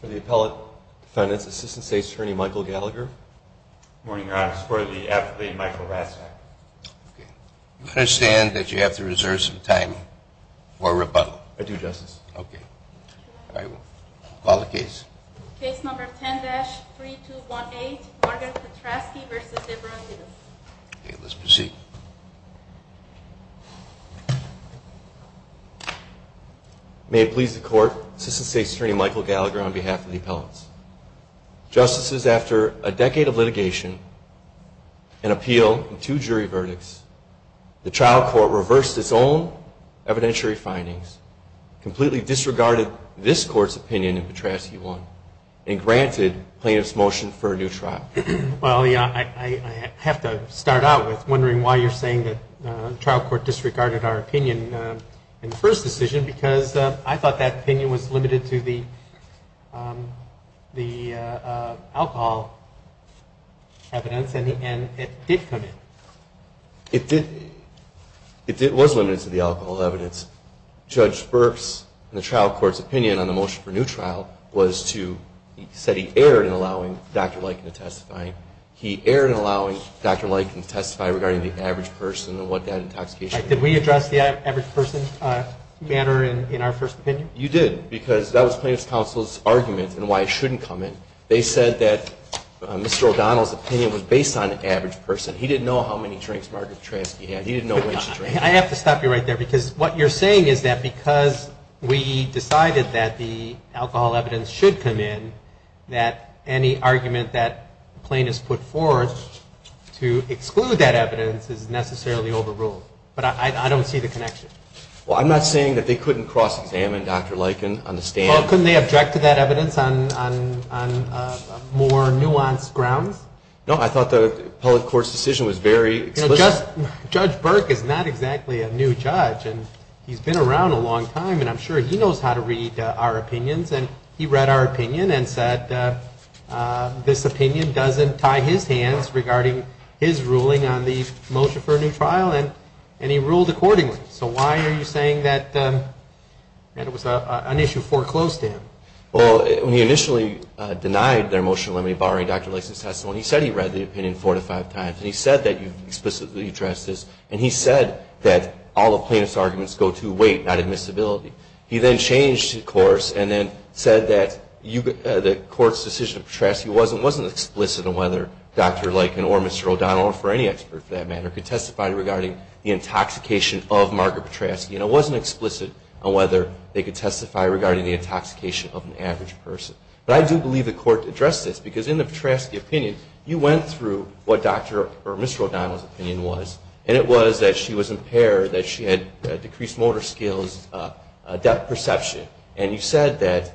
For the appellate defendants, Assistant State's Attorney Michael Gallagher. Morning, Your Honor. I support the affidavit of Michael Rastak. You understand that you have to reserve some time for rebuttal? I do, Justice. Okay. Call the case. Case number 10-3218, Margaret Petraski v. Deborah Thedos. May it please the Court, Assistant State's Attorney Michael Gallagher on behalf of the appellants. Justices, after a decade of litigation and appeal and two jury verdicts, the trial court reversed its own evidentiary findings, completely disregarded this court's opinion in Petraski 1, and granted plaintiff's motion for a new trial. Well, I have to start out with wondering why you're saying that the trial court disregarded our opinion in the first decision because I thought that opinion was limited to the alcohol evidence and it did come in. It was limited to the alcohol evidence. Judge Burke's and the trial court's opinion on the motion for a new trial was to he said he erred in allowing Dr. Leikin to testify. He erred in allowing Dr. Leikin to testify regarding the average person and what that intoxication was. Did we address the average person matter in our first opinion? You did because that was plaintiff's counsel's argument and why it shouldn't come in. They said that Mr. O'Donnell's opinion was based on an average person. He didn't know how many drinks Margaret Petraski had. He didn't know which drink. I have to stop you right there because what you're saying is that because we decided that the alcohol evidence should come in, that any argument that plaintiff's put forth to exclude that evidence is necessarily overruled. But I don't see the connection. I'm not saying that they couldn't cross-examine Dr. Leikin on the stand. Couldn't they object to that evidence on more nuanced grounds? No, I thought the public court's decision was very explicit. Judge Burke is not exactly a new judge and he's been around a long time and I'm sure he knows how to read our opinions and he read our opinion and said this opinion doesn't tie his hands regarding his ruling on the motion for a new trial and he ruled accordingly. So why are you saying that it was an issue foreclosed in? Well, when he initially denied their motion borrowing Dr. Leikin's testimony, he said he read the opinion four to five times and he said that you explicitly addressed this and he said that all of plaintiff's arguments go to weight, not admissibility. He then changed course and then said that the court's decision of Petraski wasn't explicit on whether Dr. Leikin or Mr. O'Donnell, or any expert for that matter, could testify regarding the intoxication of Margaret Petraski and it wasn't explicit on whether they could testify regarding the intoxication of an average person. But I do believe the court addressed this because in the Petraski opinion, you went through what Dr. or Mr. O'Donnell's opinion was and it was that she was impaired, that she had decreased motor skills, depth perception and you said that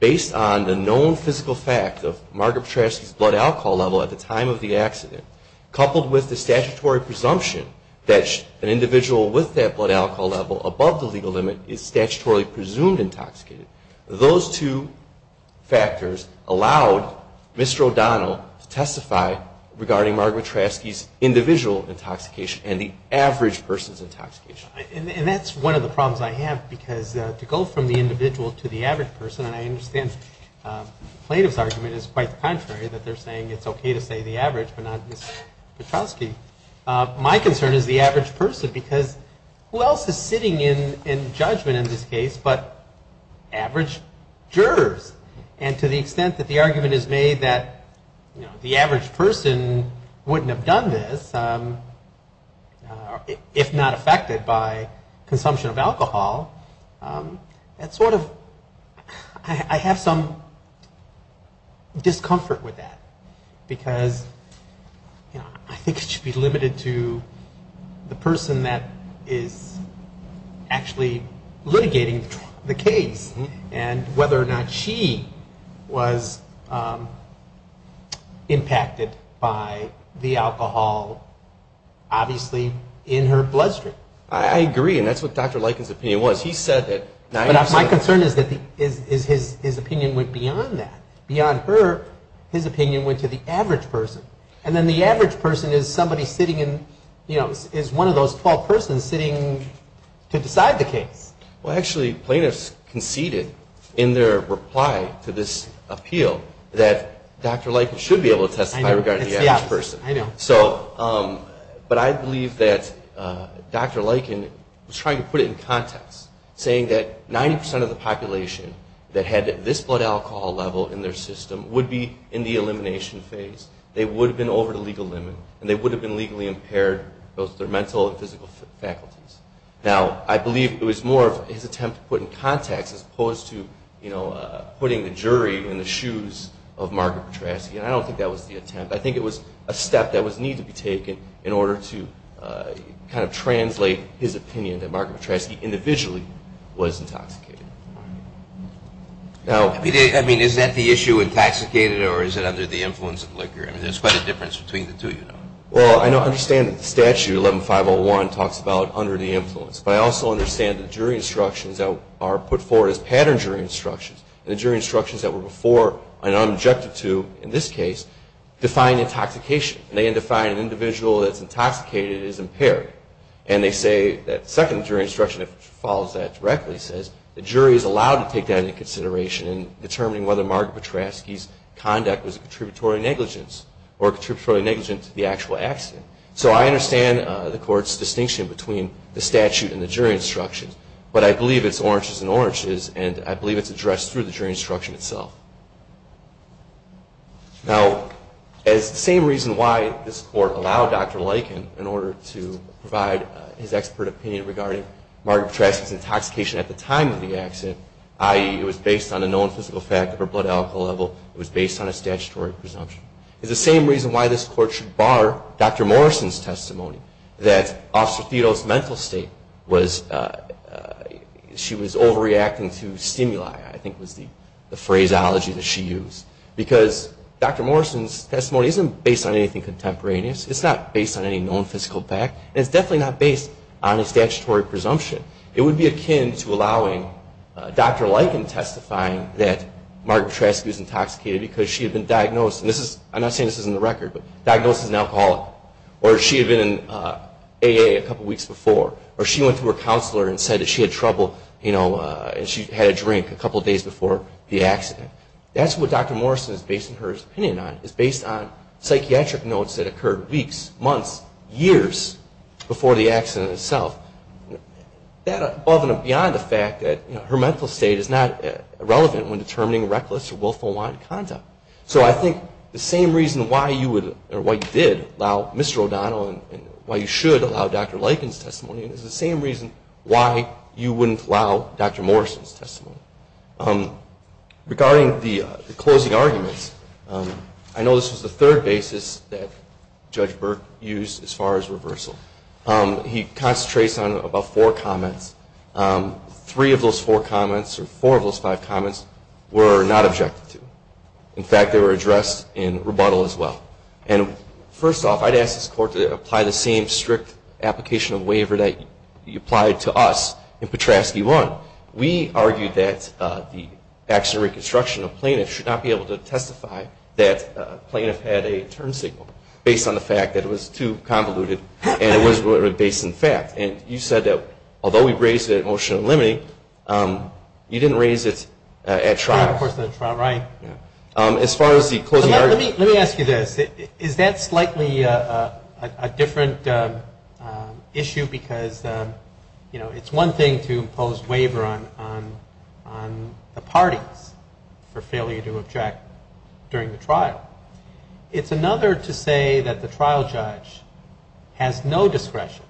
based on the known physical fact of Margaret Petraski's blood alcohol level at the time of the accident, coupled with the statutory presumption that an individual with that blood alcohol level above the legal limit is statutorily presumed intoxicated. Those two factors allowed Mr. O'Donnell to testify regarding Margaret Petraski's individual intoxication and the average person's intoxication. And that's one of the problems I have because to go from the individual to the average person, and I understand the plaintiff's argument is quite the contrary, that they're saying it's okay to say the average but not Ms. Petraski. My concern is the average person because who else is sitting in judgment in this case but average jurors? And to the extent that the argument is made that the average person wouldn't have done this if not affected by consumption of alcohol, that sort of I have some discomfort with that because I think it should be limited to the person that is actually litigating the case and whether or not she was impacted by the alcohol, obviously in her bloodstream. I agree and that's what Dr. Likens' opinion was. My concern is that his opinion went beyond that. Beyond her, his opinion went to the average person and then the average person is one of those 12 persons sitting to decide the case. Well actually, plaintiffs conceded in their reply to this appeal that Dr. Likens should be able to testify regarding the average person. But I believe that Dr. Likens was trying to put it in context, saying that 90% of the population that had this blood alcohol level in their system would be in the elimination phase. They would have been over the legal limit and they would have been legally impaired, both their mental and physical faculties. Now, I believe it was more of his attempt to put it in context as opposed to putting the jury in the shoes of Margaret Patrasche and I don't think that was the attempt. I think it was a step that was needed to be taken in order to translate his opinion that Margaret Patrasche individually was intoxicated. I mean, is that the issue intoxicated or is it under the influence of liquor? I mean, there's quite a difference between the two. Well, I understand that the statute, 11-501, talks about under the influence. But I also understand the jury instructions that are put forward as pattern jury instructions. The jury instructions that were before, and I'm objected to in this case, define intoxication. They define an individual that's intoxicated as impaired. And they say that the second jury instruction that follows that directly says the jury is allowed to take that into consideration in determining whether Margaret Patrasche's conduct was a contributory negligence or a contributory negligence to the actual accident. So I understand the court's distinction between the statute and the jury instructions. But I believe it's oranges and oranges and I believe it's addressed through the jury instruction itself. Now, as the same reason why this court allowed Dr. Lykin in order to provide his expert opinion regarding Margaret Patrasche's intoxication at the time of the accident, i.e., it was based on a known physical fact of her blood alcohol level, it was based on a statutory presumption, is the same reason why this court should bar Dr. Morrison's testimony that Officer Theodore's mental state was, she was overreacting to stimuli, I think was the phraseology that she used. Because Dr. Morrison's testimony isn't based on anything contemporaneous. It's not based on any known physical fact. And it's definitely not based on a statutory presumption. It would be akin to allowing Dr. Lykin testifying that Margaret Patrasche was intoxicated because she had been diagnosed, and this is, I'm not saying this is in the record, but diagnosed as an alcoholic. Or she had been in AA a couple weeks before. Or she went to her counselor and said that she had trouble and she had a drink a couple days before the accident. That's what Dr. Morrison is basing her opinion on. It's based on psychiatric notes that occurred weeks, months, years before the accident itself. That above and beyond the fact that her mental state is not relevant when determining reckless or willful wanted conduct. So I think the same reason why you would, or why you did allow Mr. O'Donnell and why you should allow Dr. Lykin's testimony is regarding the closing arguments. I know this was the third basis that Judge Burke used as far as reversal. He concentrates on about four comments. Three of those four comments, or four of those five comments were not objected to. In fact, they were addressed in rebuttal as well. And first off, I'd ask this Court to apply the same strict application of waiver that you applied to us in that the accident reconstruction plaintiff should not be able to testify that a plaintiff had a turn signal based on the fact that it was too convoluted and it was based in fact. And you said that although we raised it at motion of limiting, you didn't raise it at trial. Let me ask you this. Is that slightly a different issue? Because it's one thing to object on the parties for failure to object during the trial. It's another to say that the trial judge has no discretion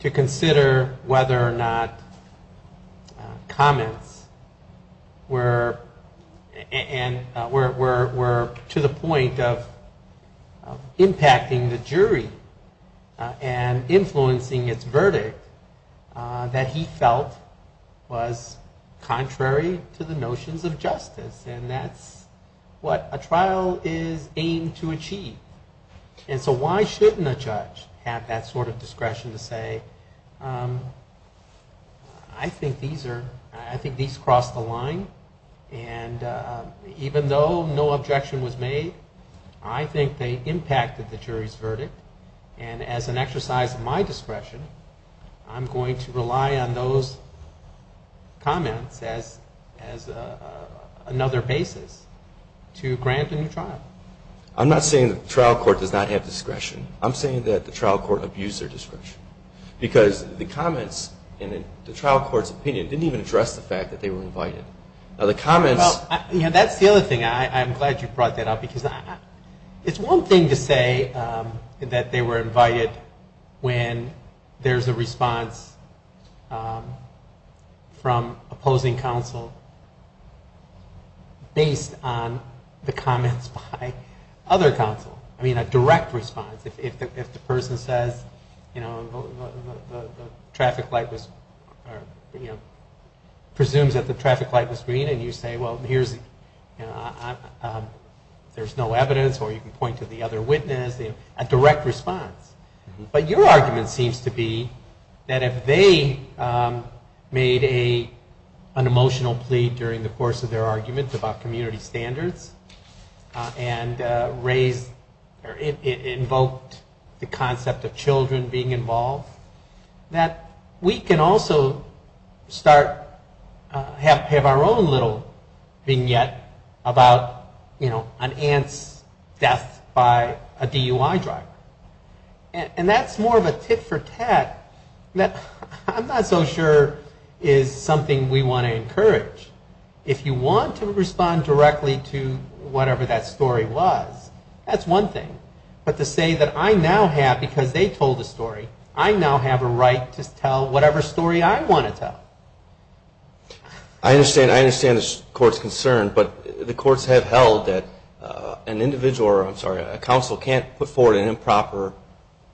to consider whether or not comments were to the point of impacting the jury and influencing its verdict that he felt was contrary to the notions of justice and that's what a trial is aimed to achieve. And so why shouldn't a judge have that sort of discretion to say I think these crossed the line and even though no objection was made, I think they impacted the jury's verdict and as an exercise of my discretion, I'm going to rely on those comments as another basis to grant a new trial. I'm not saying that the trial court does not have discretion. I'm saying that the trial court abused their discretion because the comments in the trial court's opinion didn't even address the fact that they were invited. Now the comments... That's the other thing. I'm glad you brought that up because it's one thing to say that they were invited when there's a response from opposing counsel based on the comments by other counsel. I mean a direct response. If the person says the traffic light was... presumes that the traffic light was green and you say well here's... there's no evidence or you can point to the other witness. A direct response. But your argument seems to be that if they made an emotional plea during the course of their argument about community standards and raised... invoked the concept of children being involved, that we can also start... have our own little vignette about an aunt's death by a DUI driver. And that's more of a tit for tat. I'm not so sure it's something we want to encourage. If you want to respond directly to whatever that story was, that's one thing. But to say that I now have, because they told the story, I now have a right to tell whatever story I want to tell. I understand the court's concern, but the courts have held that an individual, or I'm sorry, a counsel can't put forward an improper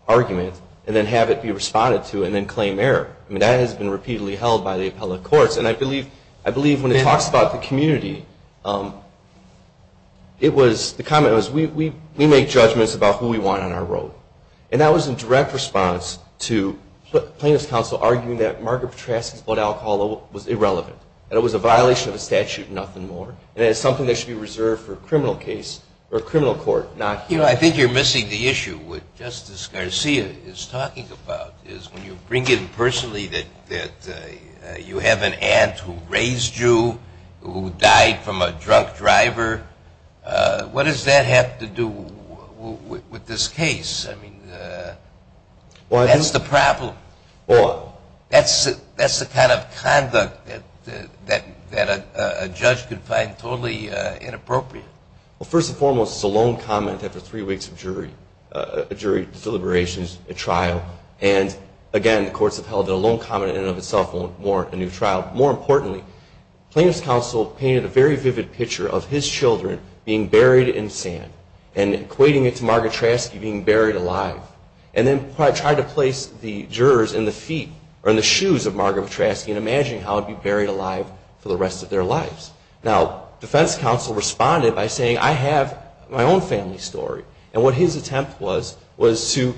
argument and then have it be responded to and then claim error. I mean that has been repeatedly held by the appellate courts. And I believe when it talks about the community, it was... the comment was we make judgments about who we want on our road. And that was a direct response to plaintiff's counsel arguing that Margaret Patrasche's blood alcohol was irrelevant. That it was a violation of the statute and nothing more. And it's something that should be reserved for a criminal case or a criminal court, not here. You know, I think you're missing the issue with Justice Garcia is talking about is when you bring in personally that you have an aunt who raised you, who died from a drunk driver. What does that have to do with this case? I mean, that's the problem. That's the kind of conduct that a judge could find totally inappropriate. Well, first and foremost, it's a lone comment after three weeks of jury deliberations at trial. And again, the courts have held that a lone comment in and of itself won't warrant a new trial. More importantly, plaintiff's counsel painted a very vivid picture of his children being buried in sand and equating it to Margaret Patrasche being buried alive. And then tried to place the jurors in the feet, or in the shoes of Margaret Patrasche and imagine how he'd be buried alive for the rest of their lives. Now, defense counsel responded by saying, I have my own family story. And what his attempt was, was to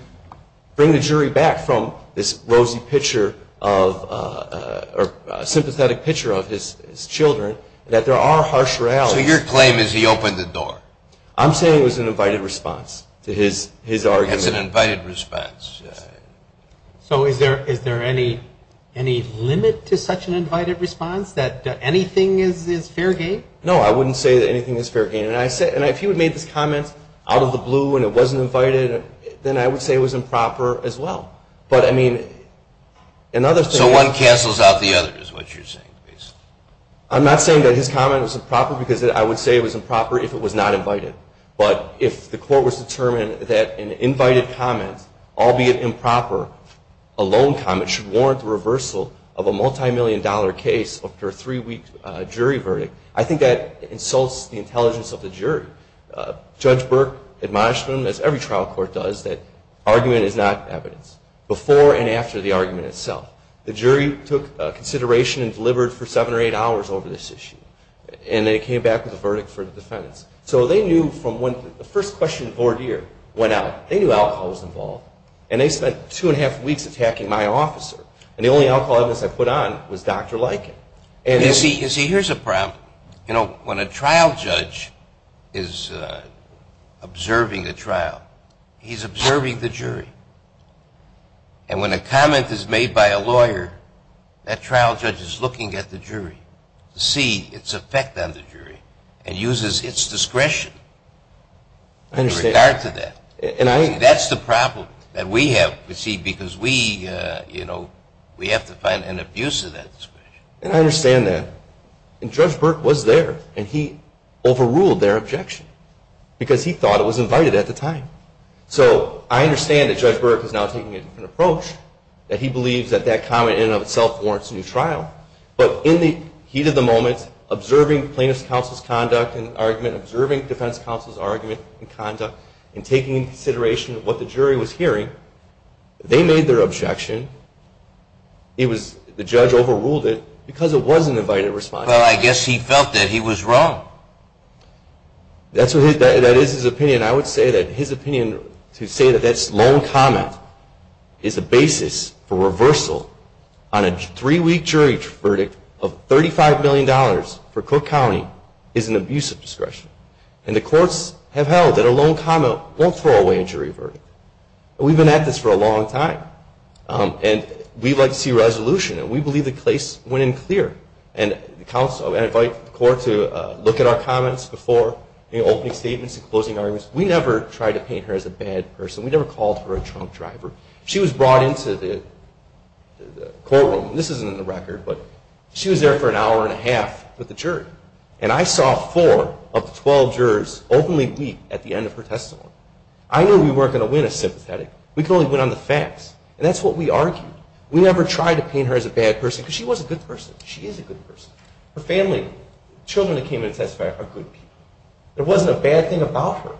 bring the jury back from this rosy picture of, or sympathetic picture of his children, that there are harsh realities. So your claim is he opened the door? I'm saying it was an invited response to his argument. It's an invited response. So is there any limit to such an invited response? That anything is fair game? No, I wouldn't say that anything is fair game. And if he would have made this comment out of the blue and it wasn't invited, then I would say it was improper as well. But I mean, another thing So one cancels out the other, is what you're saying? I'm not saying that his comment was improper, because I would say it was improper if it was not invited. But if the court was determined that an invited comment, albeit improper, a loan comment, should warrant the reversal of a multi-million dollar case after a three-week jury verdict, I think that insults the intelligence of the jury. Judge Burke admonished them, as every trial court does, that argument is not evidence, before and after the argument itself. The jury took consideration and delivered for seven or eight hours over this issue. And they came back with a verdict for the defendants. So they knew from when the first question of Vordier went out, they knew alcohol was involved. And they spent two and a half weeks attacking my officer. And the only alcohol evidence I put on was Dr. Liken. You see, here's a problem. You know, when a trial judge is observing a trial, he's observing the jury. And when a comment is made by a lawyer, that trial judge is looking at the jury to see its effect on the jury and uses its discretion in regard to that. That's the problem that we have, because we have to find an abuse of that discretion. And I understand that. And Judge Burke was there. And he overruled their objection, because he thought it was invited at the time. So I understand that Judge Burke is now taking a different approach, that he believes that that comment in and of itself warrants a new trial. But in the heat of the moment, observing plaintiff's counsel's conduct and argument, observing defense counsel's argument and conduct, and taking into consideration what the jury was hearing, they made their objection. The judge overruled it, because it was an invited response. Well, I guess he felt that he was wrong. That is his opinion. I would say that his opinion, to say that that's lone comment, is a basis for reversal on a three-week jury verdict of $35 million for Cook County, is an abuse of discretion. And the courts have held that a lone comment won't throw away a jury verdict. We've been at this for a long time. And we'd like to see resolution. And we believe the case went in clear. And I invite the court to look at our comments before opening statements and closing arguments. We never tried to paint her as a bad person. We never called her a drunk driver. But she was there for an hour and a half with the jury. And I saw four of the 12 jurors openly weep at the end of her testimony. I knew we weren't going to win a sympathetic. We could only win on the facts. And that's what we argued. We never tried to paint her as a bad person, because she was a good person. She is a good person. Her family, children that came in to testify, are good people. There wasn't a bad thing about her.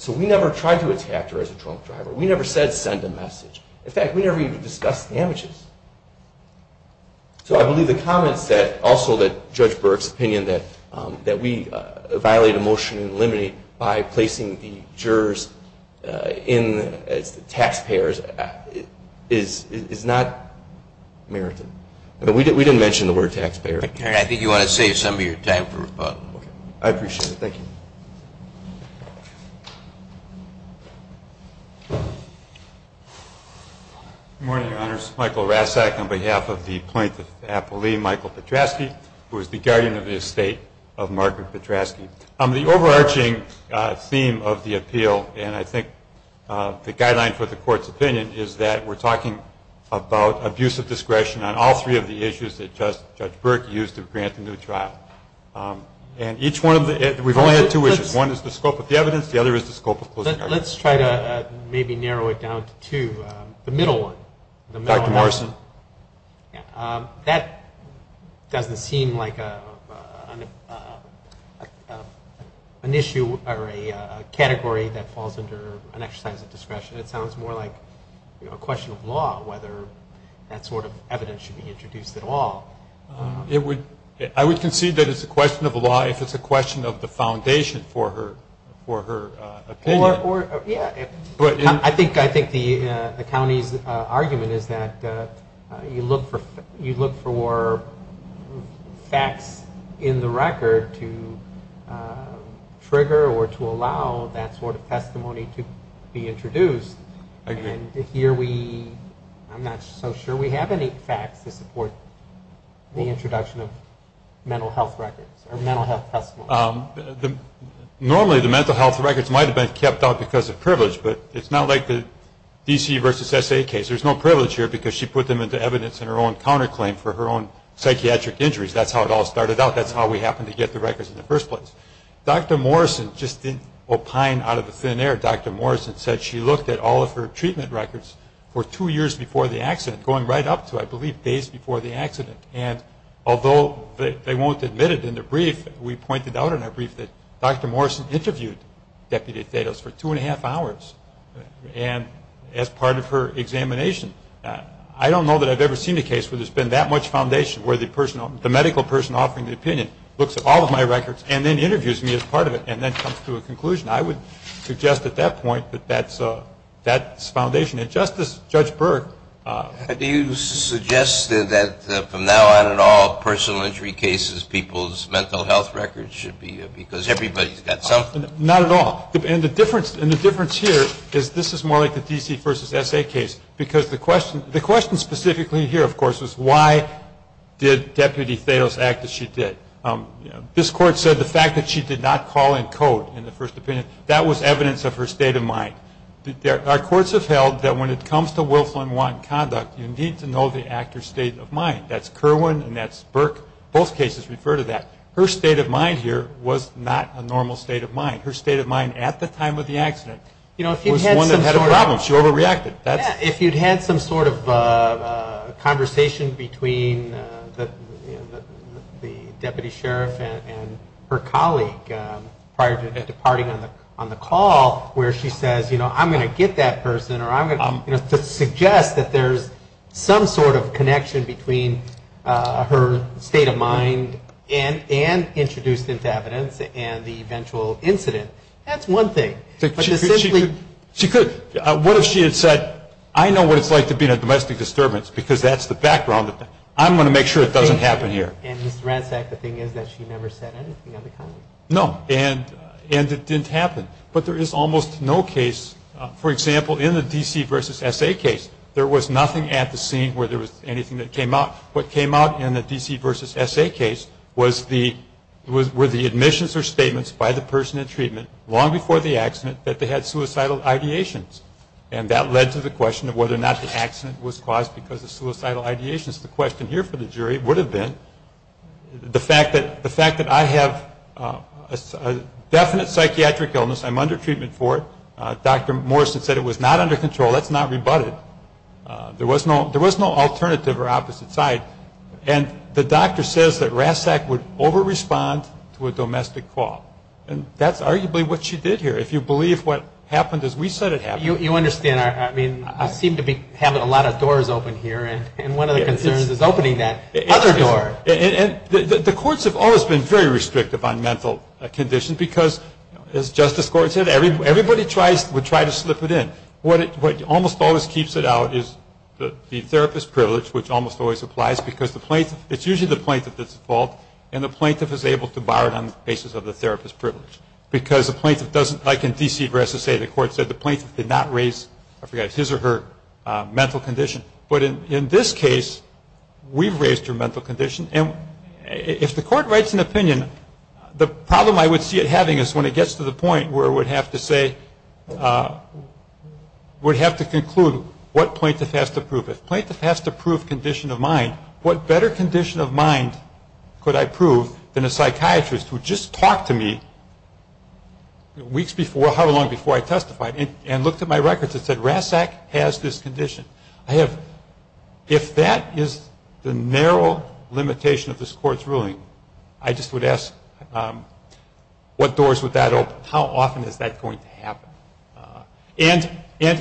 So we never tried to attack her as a drunk driver. We never said, send a message. In fact, we never even discussed the damages. So I believe the comments that also that Judge Burke's opinion that we violate a motion and eliminate by placing the jurors in as the taxpayers is not merited. We didn't mention the word taxpayer. I think you want to save some of your time for rebuttal. I appreciate it. Thank you. Good morning, Your Honors. Michael Rasack on behalf of the plaintiff's appellee, Michael Petraschke, who is the guardian of the estate of Margaret Petraschke. The overarching theme of the appeal, and I think the guideline for the Court's opinion, is that we're talking about abuse of discretion on all three of the issues that Judge Burke used to grant the new trial. And each one of the, we've only had two issues. One is the scope of the evidence. The other is the scope of closing arguments. Let's try to maybe narrow it down to two. The middle one. Dr. Morrison. That doesn't seem like an issue or a category that falls under an exercise of discretion. It sounds more like a question of law, whether that sort of evidence should be introduced at all. I would concede that it's a question of discretion for her opinion. I think the county's argument is that you look for facts in the record to trigger or to allow that sort of testimony to be introduced. And here we, I'm not so sure we have any facts to support the introduction of mental health records. Normally the mental health records might have been kept out because of privilege, but it's not like the D.C. versus S.A. case. There's no privilege here because she put them into evidence in her own counterclaim for her own psychiatric injuries. That's how it all started out. That's how we happened to get the records in the first place. Dr. Morrison just didn't opine out of thin air. Dr. Morrison said she looked at all of her treatment records for two years before the accident, going right up to, I believe, days before the accident. And although they won't admit it in their brief, we pointed out in our brief that Dr. Morrison interviewed Deputy Thedos for two and a half hours as part of her examination. I don't know that I've ever seen a case where there's been that much foundation, where the medical person offering the opinion looks at all of my records and then interviews me as part of it and then comes to a conclusion. I would suggest at that point that that's foundation. And Justice Judge Berg. Do you suggest that from now on in all personal injury cases, people's mental health records should be because everybody's got something? Not at all. And the difference here is this is more like the D.C. v. S.A. case because the question specifically here, of course, is why did Deputy Thedos act as she did? This Court said the fact that she did not call in code in the first opinion, that was evidence of her state of mind. Our Courts have held that when it comes to Wilflin-Watt conduct, you need to know the actor's state of mind. That's Kerwin and that's Berg. Both cases refer to that. Her state of mind here was not a normal state of mind. Her state of mind at the time of the accident was one that had a problem. She overreacted. If you'd had some sort of conversation between the Deputy Sheriff and her colleague prior to departing on the call, where she says, you know, I'm going to get that person or I'm going to suggest that there's some sort of connection between her state of mind and introduced into evidence and the eventual incident, that's one thing. She could. What if she had said, I know what it's like to be in a domestic disturbance because that's the background. I'm going to make sure it doesn't happen here. And, Mr. Ransack, the thing is that she never said anything of the kind. No. And it didn't happen. But there is almost no case, for example, in the D.C. v. S.A. case, there was nothing at the scene where there was anything that came out. What came out in the D.C. v. S.A. case were the admissions or statements by the person in treatment long before the accident that they had suicidal ideations. And that led to the question of whether or not the accident was caused because of suicidal ideations. The question here for the jury would have been the fact that I have a definite psychiatric illness. I'm under treatment for it. Dr. Morrison said it was not under control. That's not rebutted. There was no alternative or opposite side. And the doctor says that Ransack would over-respond to a domestic call. And that's arguably what she did here. If you believe what happened as we said it happened. You understand. I mean, I seem to be having a lot of doors open here. And one of the concerns is opening that other door. And the courts have always been very restrictive on mental conditions because, as Justice Gordon said, everybody would try to slip it in. What almost always keeps it out is the therapist's privilege, which almost always applies because it's usually the plaintiff that's at fault and the plaintiff is able to bar it on the basis of the therapist's privilege. Because the plaintiff doesn't, like in D.C. v. S.A., the court said the plaintiff did not raise his or her mental condition. But in this case, we've raised her mental condition. And if the court writes an opinion, the problem I would see it having is when it gets to the point where it would have to say, would have to conclude what plaintiff has to prove. If plaintiff has to prove condition of mind, what better condition of mind could I prove than a psychiatrist who just talked to me weeks before, however long before I testified, and looked at my records and said, Ransack has this condition. If that is the narrow limitation of this Court's ruling, I just would ask what doors would that open? How often is that going to happen? And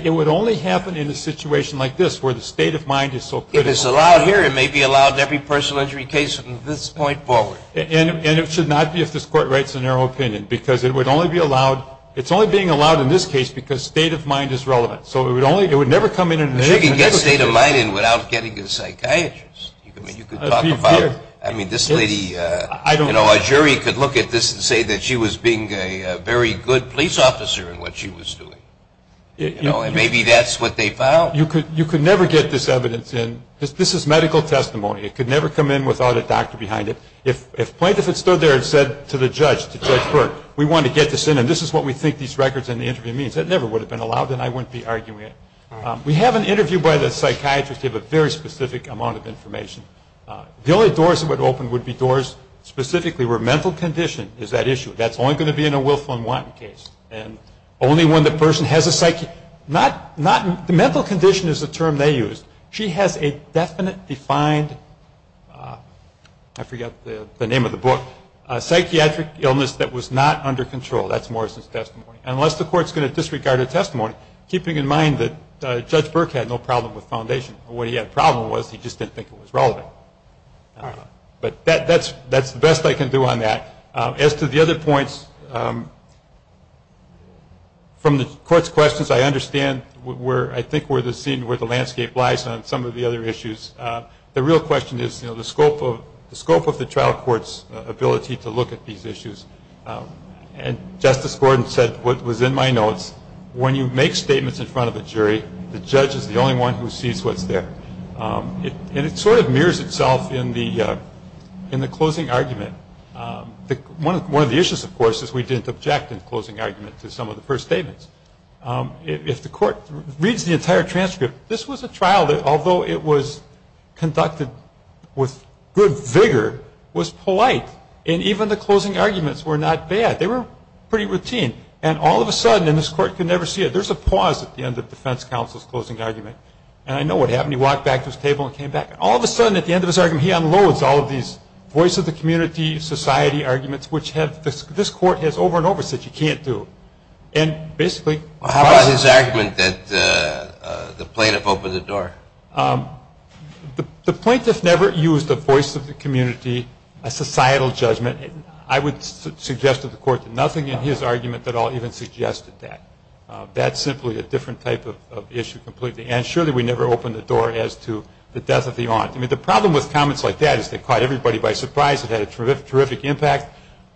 it would only happen in a situation like this, where the state of mind is so critical. If it's allowed here, it may be allowed in every personal injury case from this point forward. And it should not be if this Court writes a narrow opinion, because it's only being allowed in this case because state of mind is relevant. So it would only, it would never come in. But you can get state of mind in without getting a psychiatrist. You could talk about, I mean, this lady, you know, a jury could look at this and say that she was being a very good police officer in what she was doing. You know, and maybe that's what they found. You could never get this evidence in. This is medical testimony. It could never come in without a doctor behind it. If plaintiff had stood there and said to the judge, to Judge Burke, we want to get this in, and this is what we think these records in the interview means, that never would have been allowed, and I wouldn't be arguing it. We have an interview by the psychiatrist. They have a very specific amount of information. The only doors that would open would be doors specifically where mental condition is that issue. That's only going to be in a Wilf and Wanton case. And only when the person has a psych, not, not, the mental condition is the term they used. She has a definite defined, I forget the name of the book, psychiatric illness that was not under control. That's Morrison's testimony. Unless the court's going to disregard her testimony, keeping in mind that Judge Burke had no problem with foundation. What he had a problem with was he just didn't think it was relevant. But that's the best I can do on that. As to the other points, from the court's questions, I understand, I think we're seeing where the landscape lies on some of the other issues. The real question is, you know, the scope of the trial court's ability to look at these issues. And Justice Gordon said what was in my notes, when you make statements in front of a jury, the judge is the only one who sees what's there. And it sort of mirrors itself in the closing argument. One of the issues, of course, is we didn't object in the closing argument to some of the first statements. If the court reads the entire transcript, this was a trial that, although it was conducted with good vigor, was polite. And even the closing arguments were not bad. They were pretty routine. And all of a sudden, and this court could never see it, there's a pause at the end of defense counsel's closing argument. And I know what happened. He walked back to his table and came back. All of a sudden, at the end of his argument, he unloads all of these voice of the community, society arguments, which have this court has over and over said you can't do. And basically How about his argument that the plaintiff opened the door? The plaintiff never used a voice of the community, a societal judgment. I would suggest to the court that nothing in his argument at all even suggested that. That's simply a different type of issue completely. And surely we never opened the door as to the death of the aunt. I mean, the problem with comments like that is they caught everybody by surprise. It had a terrific impact.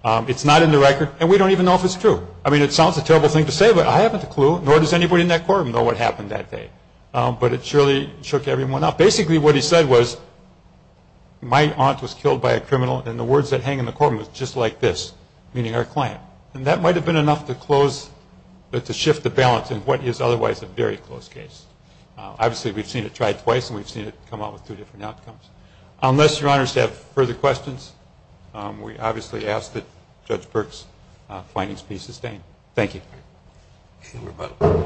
It's not in the record. And we don't even know if it's true. I mean, it sounds a terrible thing to say, but I haven't a clue, nor does anybody in that court know what happened that day. But it surely shook everyone up. Basically, what he said was my aunt was killed by a criminal, and the words that hang in the courtroom was just like this, meaning our client. And that might have been enough to close to shift the balance in what is otherwise a very close case. Obviously, we've seen it tried twice, and we've seen it come out with two different outcomes. Unless your honors have further questions, we obviously ask that Judge Burke's findings be sustained. Thank you.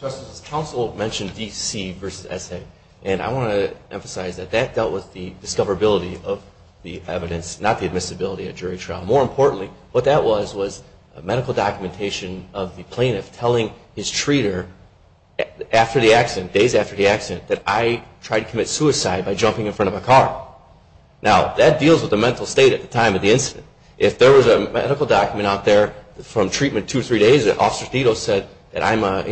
Justice, counsel mentioned DC versus SA. And I want to emphasize that that dealt with the discoverability of the evidence, not the admissibility at jury trial. More importantly, what that was was a medical documentation of the plaintiff telling his treater days after the accident that I tried to commit suicide by jumping in front of a car. Now, that deals with the mental state at the time of the incident. If there was a medical document out there from treatment two or three days that Officer Thedos said that I'm a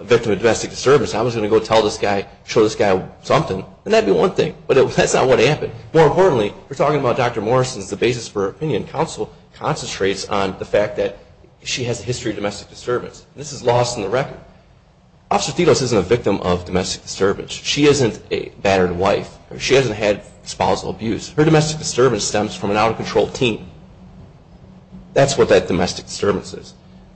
victim of domestic disturbance, I was going to go tell this guy, show this guy something, and that'd be one thing. But that's not what happened. More importantly, we're talking about Dr. Morrison's, the basis for her opinion. Counsel concentrates on the fact that she has a history of domestic disturbance. This is lost in the record. Officer Thedos isn't a victim of domestic disturbance. She isn't a battered wife. She hasn't had espousal abuse. Her history of domestic disturbance is lost. That's what that domestic disturbance is.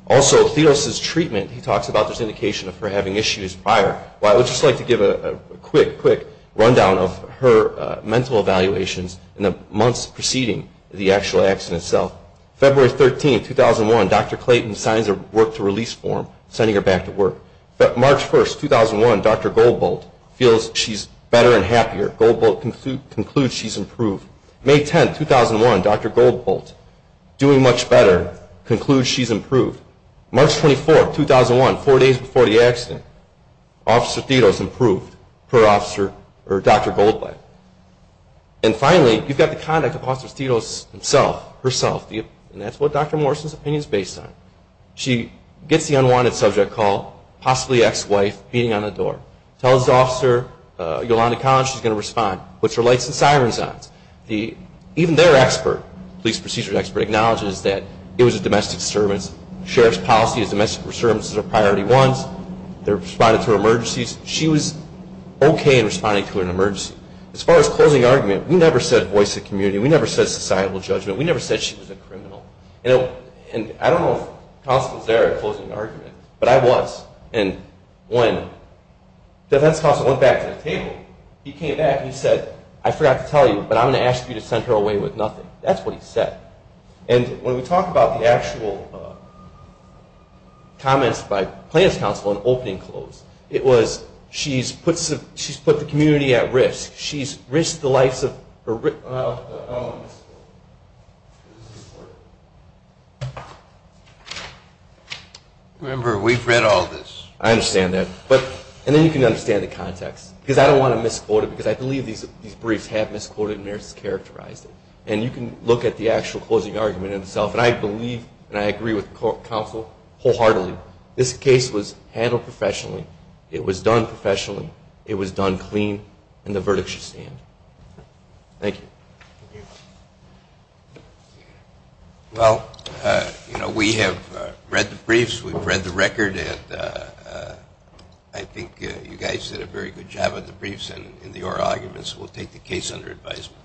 Also, Thedos' treatment, he talks about this indication of her having issues prior. Well, I would just like to give a quick, quick rundown of her mental evaluations in the months preceding the actual accident itself. February 13, 2001, Dr. Clayton signs a work-to-release form sending her back to work. March 1, 2001, Dr. Goldbolt feels she's better and happier. Goldbolt concludes she's improved. May 10, 2001, Dr. Goldbolt, doing much better, concludes she's improved. March 24, 2001, four days before the accident, Officer Thedos improved per Dr. Goldbolt. And finally, you've got the conduct of Officer Thedos herself, and that's what Dr. Morrison's opinion is based on. She gets the unwanted subject call, possibly ex-wife, beating on the door. Tells Officer Yolanda Collins she's going to respond, puts her lights and sirens on. Even their expert, police procedure expert, acknowledges that it was a domestic disturbance. Sheriff's policy is domestic disturbances are priority ones. They responded to emergencies. She was okay in responding to an emergency. As far as closing argument, we never said voice of community. We never said societal judgment. We never said she was a criminal. And I don't know if counsel was there at closing argument, but I was. And when defense counsel went back to the table, he came back and he said, I forgot to tell you, but I'm going to ask you to send her away with nothing. That's what he said. And when we talk about the actual comments by plaintiff's counsel on opening and close, it was she's put the community at risk. She's risked the lives of her own. Remember, we've read all this. I understand that. And then you can understand the context. Because I don't want to misquote it. Because I believe these briefs have misquoted and mischaracterized it. And you can look at the actual closing argument in itself. And I believe and I agree with counsel wholeheartedly, this case was handled professionally. It was done professionally. It was done clean. And the verdict should stand. Thank you. Well, we have read the briefs. We've read the record. And I think you guys did a very good job of the briefs and the oral arguments. We'll take the case under advisement.